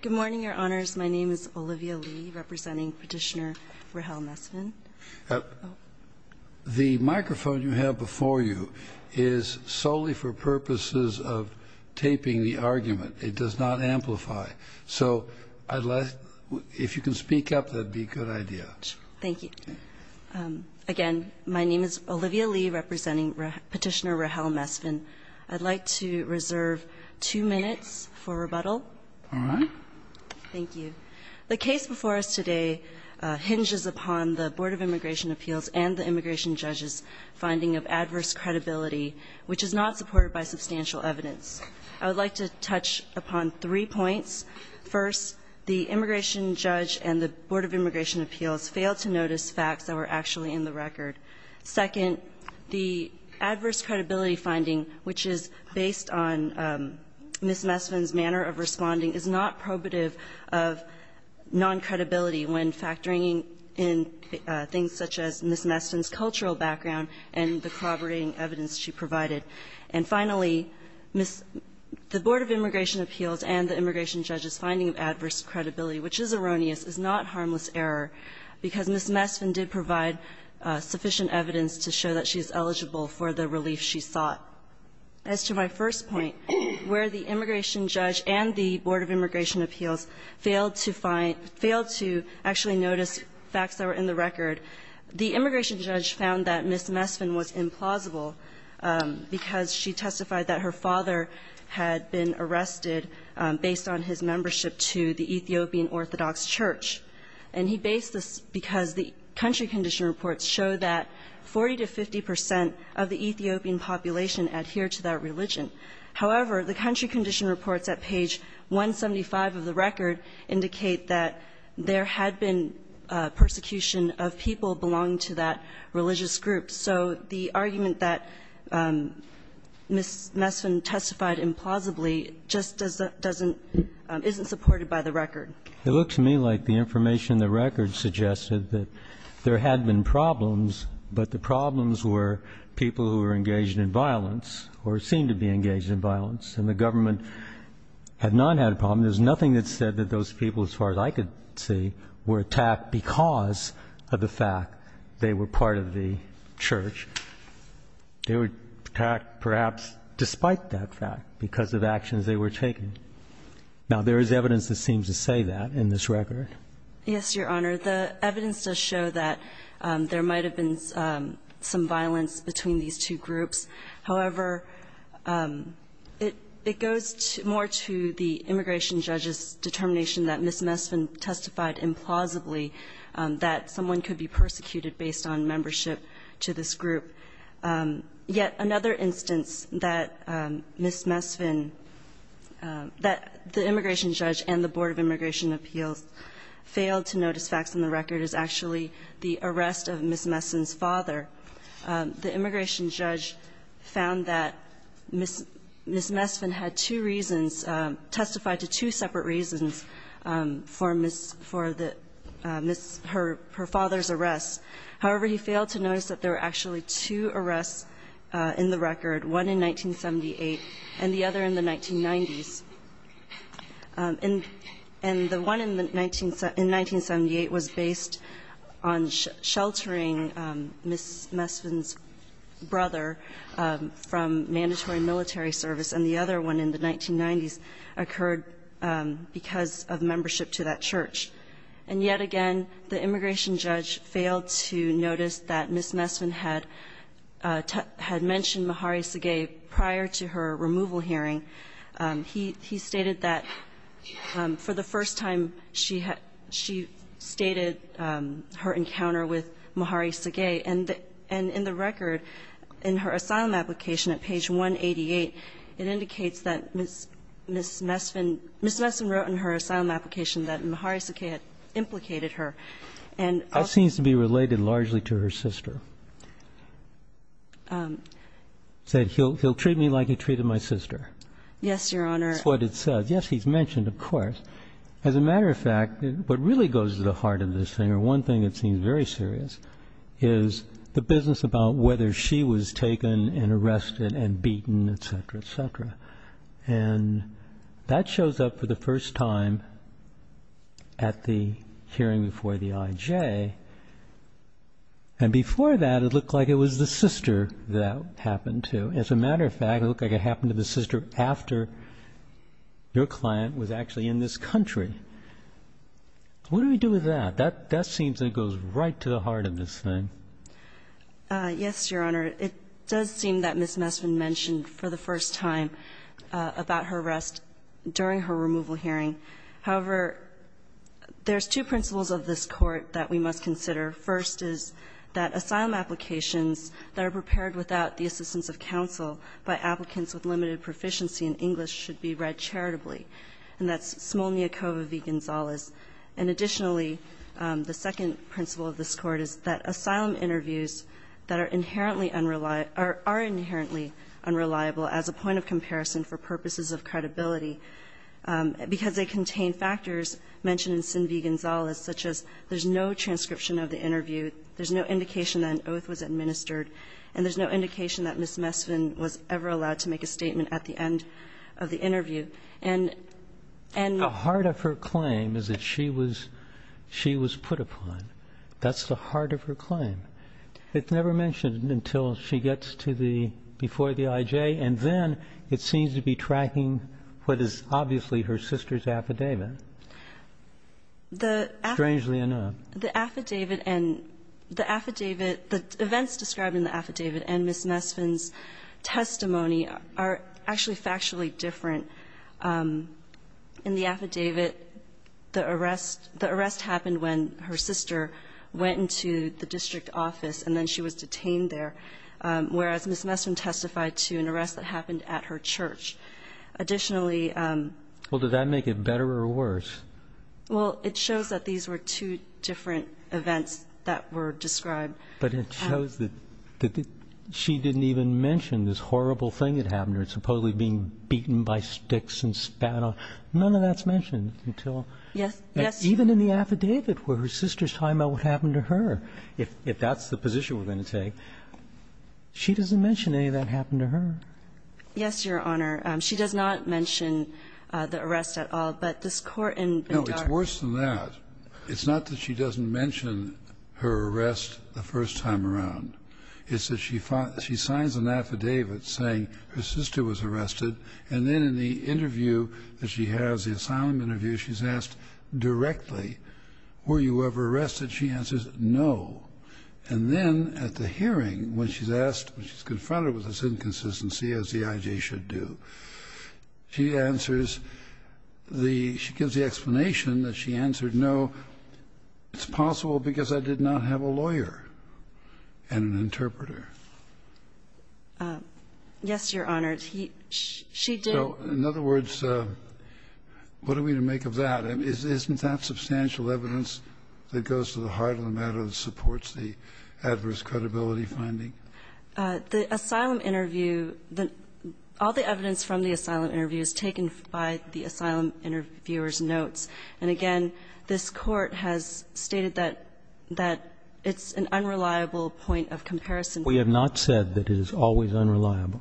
Good morning, Your Honors. My name is Olivia Lee, representing Petitioner Rahel Mesfin. The microphone you have before you is solely for purposes of taping the argument. It does not amplify. So if you can speak up, that would be a good idea. Thank you. Again, my name is Olivia Lee, representing Petitioner Rahel Mesfin. I'd like to reserve two minutes for rebuttal. Thank you. The case before us today hinges upon the Board of Immigration Appeals and the immigration judge's finding of adverse credibility, which is not supported by substantial evidence. I would like to touch upon three points. First, the immigration judge and the Board of Immigration Appeals failed to notice facts that were actually in the record. Second, the adverse credibility finding, which is based on Ms. Mesfin's manner of responding, is not probative of non-credibility when factoring in things such as Ms. Mesfin's cultural background and the corroborating evidence she provided. And finally, Ms. — the Board of Immigration Appeals and the immigration judge's finding of adverse credibility, which is erroneous, is not harmless error, because Ms. Mesfin did provide sufficient evidence to show that she's eligible for the relief she sought. As to my first point, where the immigration judge and the Board of Immigration Appeals failed to find — failed to actually notice facts that were in the record, the immigration judge found that Ms. Mesfin was implausible because she testified that her father had been arrested based on his membership to the Ethiopian Orthodox Church. And he based this because the country condition reports show that 40 to 50 percent of the Ethiopian population adhere to that religion. However, the country condition reports at page 175 of the record indicate that there had been persecution of people belonging to that religious group. So the argument that Ms. Mesfin testified implausibly just doesn't — isn't supported by the record. It looks to me like the information in the record suggested that there had been problems, but the problems were people who were engaged in violence or seemed to be engaged in violence, and the government had not had a problem. There's nothing that said that those people, as far as I could see, were attacked because of the fact they were part of the church. They were attacked perhaps despite that fact because of actions they were taking. Now, there is evidence that seems to say that in this record. Yes, Your Honor. The evidence does show that there might have been some violence between these two judges' determination that Ms. Mesfin testified implausibly that someone could be persecuted based on membership to this group. Yet another instance that Ms. Mesfin — that the immigration judge and the Board of Immigration Appeals failed to notice facts in the record is actually the arrest of Ms. Mesfin's father. The immigration judge found that Ms. Mesfin had two reasons, testified to two statements that Ms. Mesfin had two separate reasons for Ms. — for the — Ms. — her father's arrest. However, he failed to notice that there were actually two arrests in the record, one in 1978 and the other in the 1990s. And the one in 1978 was based on sheltering Ms. Mesfin's brother from mandatory military service, and the other one in the 1990s occurred because of membership to that church. And yet again, the immigration judge failed to notice that Ms. Mesfin had — had mentioned Mahari Segei prior to her removal hearing. He — he stated that for the first time, she had — she stated her encounter with Mahari Segei, and the — and in the record, in her asylum application at page 188, it indicates that Ms. — Ms. Mesfin — Ms. Mesfin wrote in her asylum application that Mahari Segei had implicated her, and also — That seems to be related largely to her sister, that he'll — he'll treat me like he treated my sister. Yes, Your Honor. That's what it says. Yes, he's mentioned, of course. As a matter of fact, what really goes to the heart of this thing, or one thing that And that shows up for the first time at the hearing before the I.J. And before that, it looked like it was the sister that happened to. As a matter of fact, it looked like it happened to the sister after your client was actually in this country. What do we do with that? That — that seems like it goes right to the heart of this thing. Yes, Your Honor. It does seem that Ms. Mesfin mentioned for the first time about her arrest during her removal hearing. However, there's two principles of this Court that we must consider. First is that asylum applications that are prepared without the assistance of counsel by applicants with limited proficiency in English should be read charitably, and that's Smolniakova v. Gonzales. And additionally, the second principle of this Court is that asylum interviews that are inherently unreliable — are inherently unreliable as a point of comparison for purposes of credibility, because they contain factors mentioned in Sin v. Gonzales, such as there's no transcription of the interview, there's no indication that an oath was administered, and there's no indication that Ms. Mesfin was ever allowed to make a statement at the end of the interview. And — The heart of her claim is that she was — she was put upon. That's the heart of her claim. It's never mentioned until she gets to the — before the IJ, and then it seems to be tracking what is obviously her sister's affidavit. The — Strangely enough. The affidavit and — the affidavit — the events described in the affidavit and Ms. Mesfin's testimony are actually factually different. In the affidavit, the arrest — the arrest happened when her sister went into the district office, and then she was detained there, whereas Ms. Mesfin testified to an arrest that happened at her church. Additionally — Well, did that make it better or worse? Well, it shows that these were two different events that were described. But it shows that — that she didn't even mention this horrible thing that happened to her, supposedly being beaten by sticks and spat on. None of that's mentioned until — Yes. Yes. Even in the affidavit, where her sister's talking about what happened to her, if that's the position we're going to take, she doesn't mention any of that happened to her. Yes, Your Honor. She does not mention the arrest at all. But this Court in — No, it's worse than that. It's not that she doesn't mention her arrest the first time around. It's that she signs an affidavit saying her sister was arrested, and then in the interview that she has, the asylum interview, she's asked directly, were you ever arrested? She answers, no. And then at the hearing, when she's asked — when she's confronted with this inconsistency, as the I.J. should do, she answers the — she gives the explanation that she answered no. It's possible because I did not have a lawyer. And an interpreter. Yes, Your Honor. She did — So, in other words, what are we to make of that? Isn't that substantial evidence that goes to the heart of the matter that supports the adverse credibility finding? The asylum interview — all the evidence from the asylum interview is taken by the asylum interviewer's notes. And again, this Court has stated that it's an unreliable point of comparison. We have not said that it is always unreliable.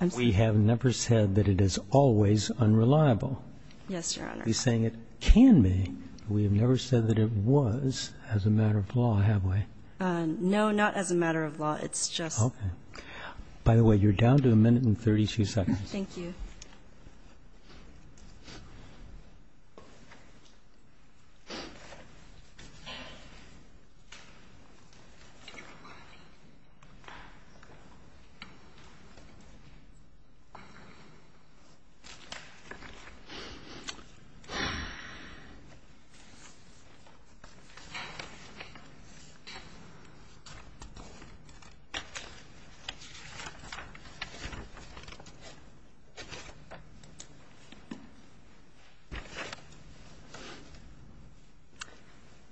I'm sorry? We have never said that it is always unreliable. Yes, Your Honor. You're saying it can be, but we have never said that it was as a matter of law, have we? No, not as a matter of law. It's just — Okay. By the way, you're down to a minute and 32 seconds. Thank you.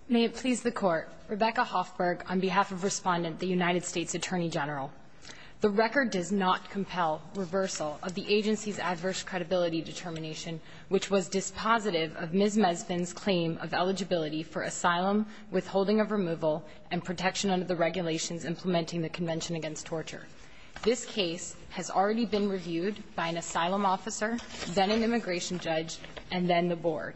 May it please the Court. Rebecca Hoffberg on behalf of Respondent, the United States Attorney General. The record does not compel reversal of the agency's adverse credibility determination, which was dispositive of Ms. Mesfin's claim of eligibility for asylum, withholding of removal, and protection under the regulations implementing the Convention Against Torture. This case has already been reviewed by an asylum officer, then an immigration judge, and then the Board.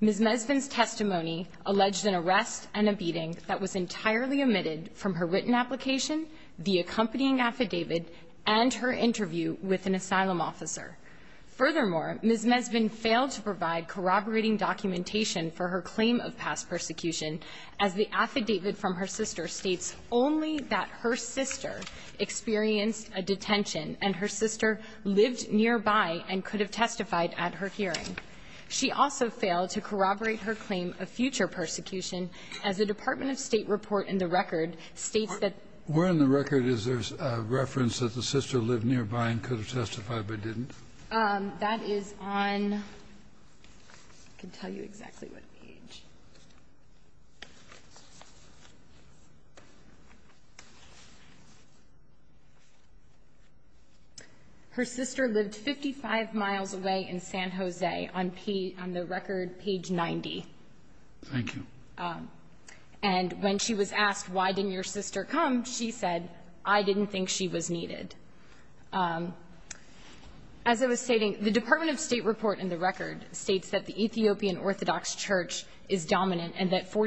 Ms. Mesfin's testimony alleged an arrest and a beating that was entirely omitted from her written application, the accompanying affidavit, and her interview with an asylum officer. Furthermore, Ms. Mesfin failed to provide corroborating documentation for her claim of past persecution, as the affidavit from her sister states only that her sister experienced a detention and her sister lived nearby and could have testified at her hearing. She also failed to corroborate her claim of future persecution, as the Department of State report in the record states that the — Where in the record is there a reference that the sister lived nearby and could have testified but didn't? That is on — I can tell you exactly what page. Her sister lived 55 miles away in San Jose on the record, page 90. Thank you. And when she was asked, why didn't your sister come, she said, I didn't think she was needed. As I was stating, the Department of State report in the record states that the 40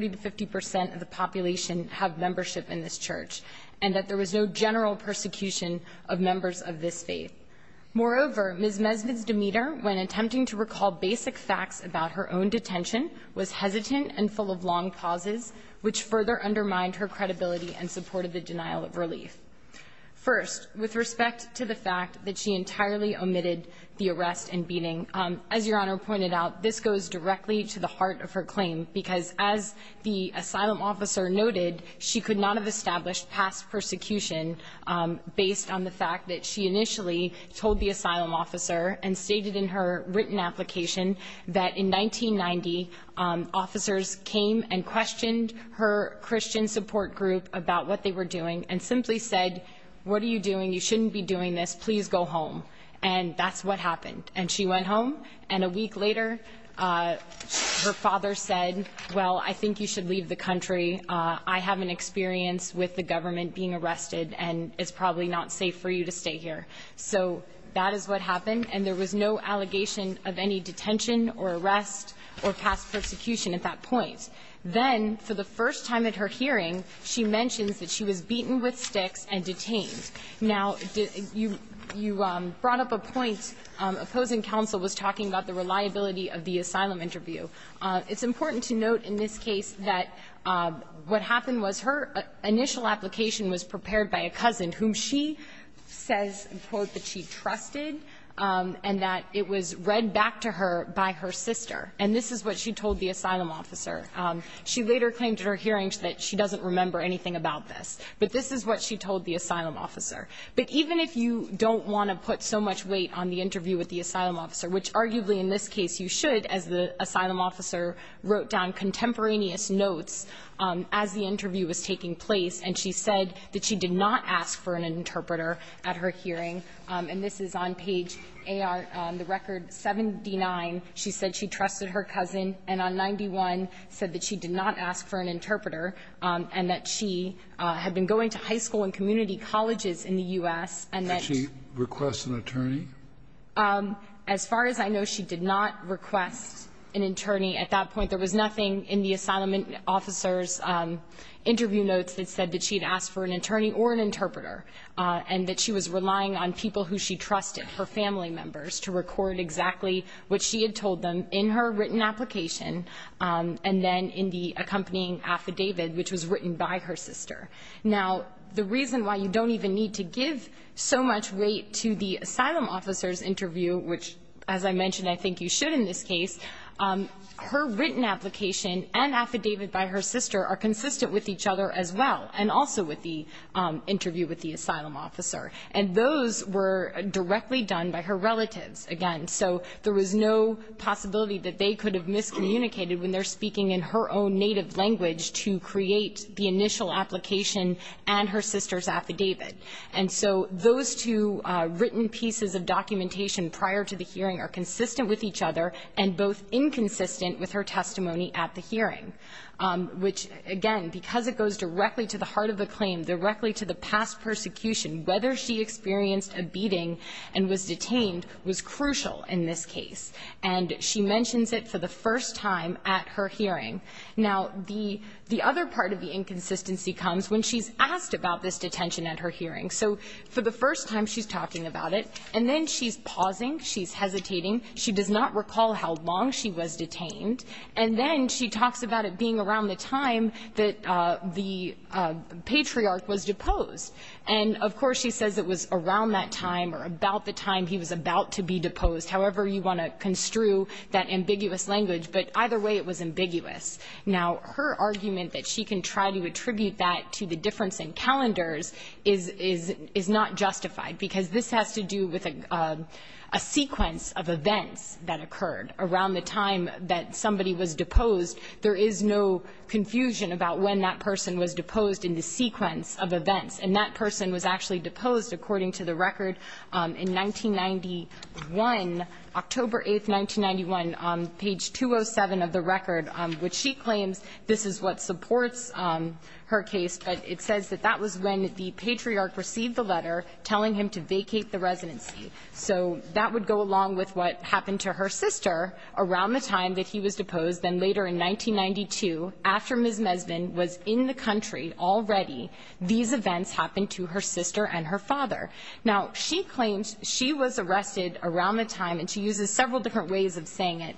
to 50 percent of the population have membership in this church and that there was no general persecution of members of this faith. Moreover, Ms. Mesfin's demeanor when attempting to recall basic facts about her own detention was hesitant and full of long pauses, which further undermined her credibility and supported the denial of relief. First, with respect to the fact that she entirely omitted the arrest and beating, as Your Honor pointed out, this goes directly to the heart of her claim. Because as the asylum officer noted, she could not have established past persecution based on the fact that she initially told the asylum officer and stated in her written application that in 1990, officers came and questioned her Christian support group about what they were doing and simply said, what are you doing? You shouldn't be doing this. Please go home. And that's what happened. And she went home. And a week later, her father said, well, I think you should leave the country. I have an experience with the government being arrested, and it's probably not safe for you to stay here. So that is what happened. And there was no allegation of any detention or arrest or past persecution at that point. Then, for the first time at her hearing, she mentions that she was beaten with sticks and detained. Now, you brought up a point. Opposing counsel was talking about the reliability of the asylum interview. It's important to note in this case that what happened was her initial application was prepared by a cousin whom she says, quote, that she trusted and that it was read back to her by her sister. And this is what she told the asylum officer. She later claimed at her hearing that she doesn't remember anything about this. But this is what she told the asylum officer. But even if you don't want to put so much weight on the interview with the asylum officer, which arguably in this case you should as the asylum officer wrote down contemporaneous notes as the interview was taking place, and she said that she did not ask for an interpreter at her hearing. And this is on page AR, the record 79. She said she trusted her cousin. And on 91 said that she did not ask for an interpreter and that she had been going to high school and community colleges in the U.S. and that she. Did she request an attorney? As far as I know, she did not request an attorney at that point. There was nothing in the asylum officer's interview notes that said that she had asked for an attorney or an interpreter and that she was relying on people who she trusted, her family members, to record exactly what she had told them in her written application and then in the accompanying affidavit, which was written by her sister. Now, the reason why you don't even need to give so much weight to the asylum officer's interview, which, as I mentioned, I think you should in this case, her written application and affidavit by her sister are consistent with each other as well and also with the interview with the asylum officer. And those were directly done by her relatives, again. So there was no possibility that they could have miscommunicated when they're speaking in her own native language to create the initial application and her sister's affidavit. And so those two written pieces of documentation prior to the hearing are consistent with each other and both inconsistent with her testimony at the hearing, which, again, because it goes directly to the heart of the claim, directly to the past whether she experienced a beating and was detained was crucial in this case. And she mentions it for the first time at her hearing. Now, the other part of the inconsistency comes when she's asked about this detention at her hearing. So for the first time she's talking about it, and then she's pausing, she's hesitating, she does not recall how long she was detained, and then she talks about it being around the time that the patriarch was deposed. And of course she says it was around that time or about the time he was about to be deposed, however you want to construe that ambiguous language, but either way it was ambiguous. Now, her argument that she can try to attribute that to the difference in calendars is not justified, because this has to do with a sequence of events that occurred around the time that somebody was deposed. There is no confusion about when that person was deposed in the sequence of events. And that person was actually deposed, according to the record, in 1991, October 8, 1991, on page 207 of the record, which she claims this is what supports her case, but it says that that was when the patriarch received the letter telling him to vacate the residency. So that would go along with what happened to her sister around the time that he was deposed in 1992, after Ms. Mesvin was in the country already, these events happened to her sister and her father. Now, she claims she was arrested around the time, and she uses several different ways of saying it.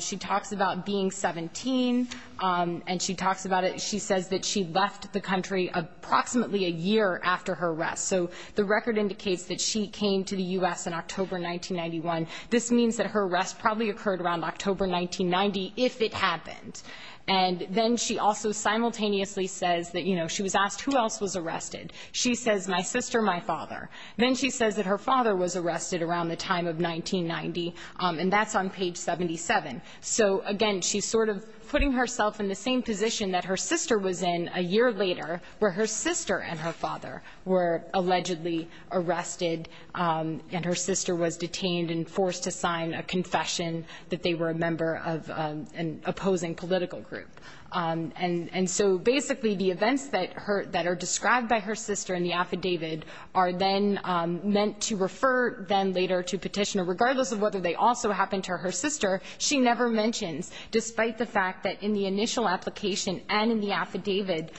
She talks about being 17, and she talks about it, she says that she left the country approximately a year after her arrest. So the record indicates that she came to the U.S. in October 1991. This means that her arrest probably occurred around October 1990, if it happened. And then she also simultaneously says that, you know, she was asked who else was arrested. She says, my sister, my father. Then she says that her father was arrested around the time of 1990, and that's on page 77. So, again, she's sort of putting herself in the same position that her sister was in a year later, where her sister and her father were allegedly arrested, and her father was then forced to sign a confession that they were a member of an opposing political group. And so, basically, the events that are described by her sister in the affidavit are then meant to refer them later to petitioner, regardless of whether they also happened to her sister. She never mentions, despite the fact that in the initial application and in the affidavit,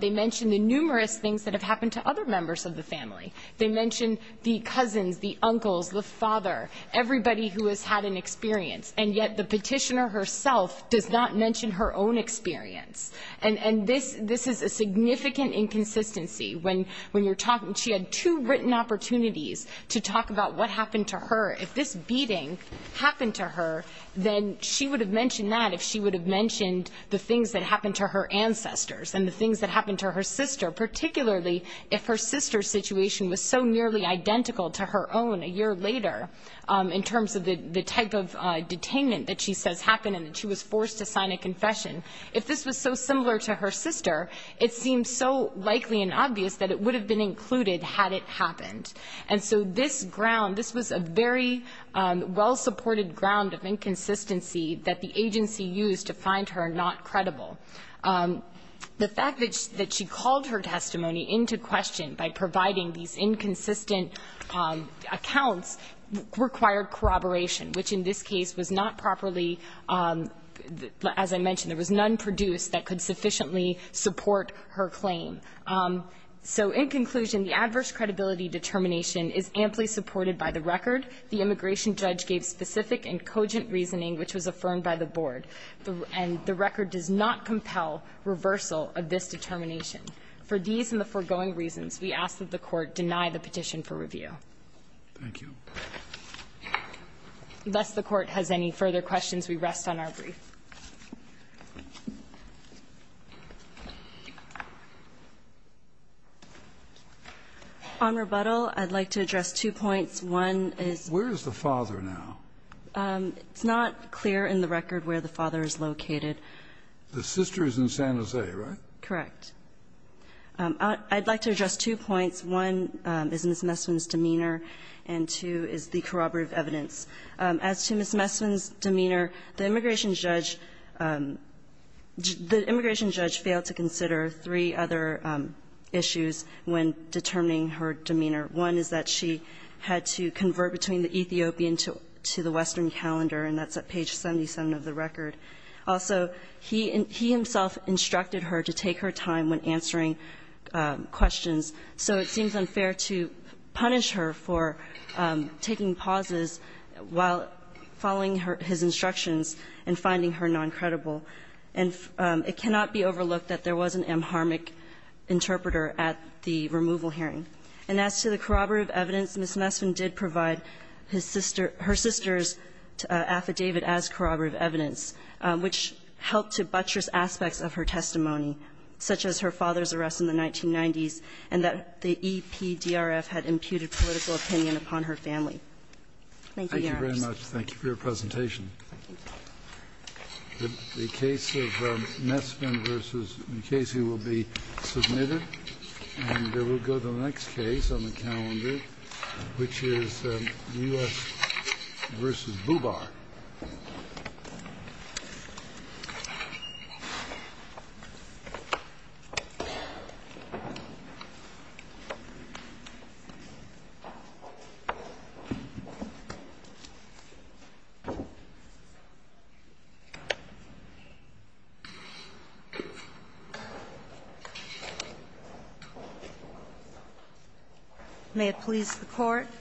they mention the numerous things that have happened to other members of the family. They mention the cousins, the uncles, the father, everybody who has had an experience. And yet the petitioner herself does not mention her own experience. And this is a significant inconsistency. When you're talking, she had two written opportunities to talk about what happened to her. If this beating happened to her, then she would have mentioned that if she would have mentioned the things that happened to her ancestors and the things that were so nearly identical to her own a year later, in terms of the type of detainment that she says happened and that she was forced to sign a confession. If this was so similar to her sister, it seems so likely and obvious that it would have been included had it happened. And so this ground, this was a very well-supported ground of inconsistency that the agency used to find her not credible. The fact that she called her testimony into question by providing these inconsistent accounts required corroboration, which in this case was not properly, as I mentioned, there was none produced that could sufficiently support her claim. So in conclusion, the adverse credibility determination is amply supported by the record. The immigration judge gave specific and cogent reasoning which was affirmed by the board. And the record does not compel reversal of this determination. For these and the foregoing reasons, we ask that the Court deny the petition for review. Thank you. Unless the Court has any further questions, we rest on our brief. On rebuttal, I'd like to address two points. One is Where is the father now? It's not clear in the record where the father is located. The sister is in San Jose, right? Correct. I'd like to address two points. One is Ms. Messwin's demeanor, and two is the corroborative evidence. As to Ms. Messwin's demeanor, the immigration judge failed to consider three other issues when determining her demeanor. One is that she had to convert between the Ethiopian to the Western calendar, and that's at page 77 of the record. Also, he himself instructed her to take her time when answering questions, so it seems unfair to punish her for taking pauses while following his instructions and finding her noncredible. And it cannot be overlooked that there was an amharmic interpreter at the removal hearing. And as to the corroborative evidence, Ms. Messwin did provide his sister – her sister's affidavit as corroborative evidence, which helped to buttress aspects of her testimony, such as her father's arrest in the 1990s, and that the EPDRF had imputed political opinion upon her family. Thank you, Your Honors. Thank you very much. Thank you for your presentation. The case of Messwin v. Mukasey will be submitted. And we'll go to the next case on the calendar, which is U.S. v. Bubar. May it please the Court.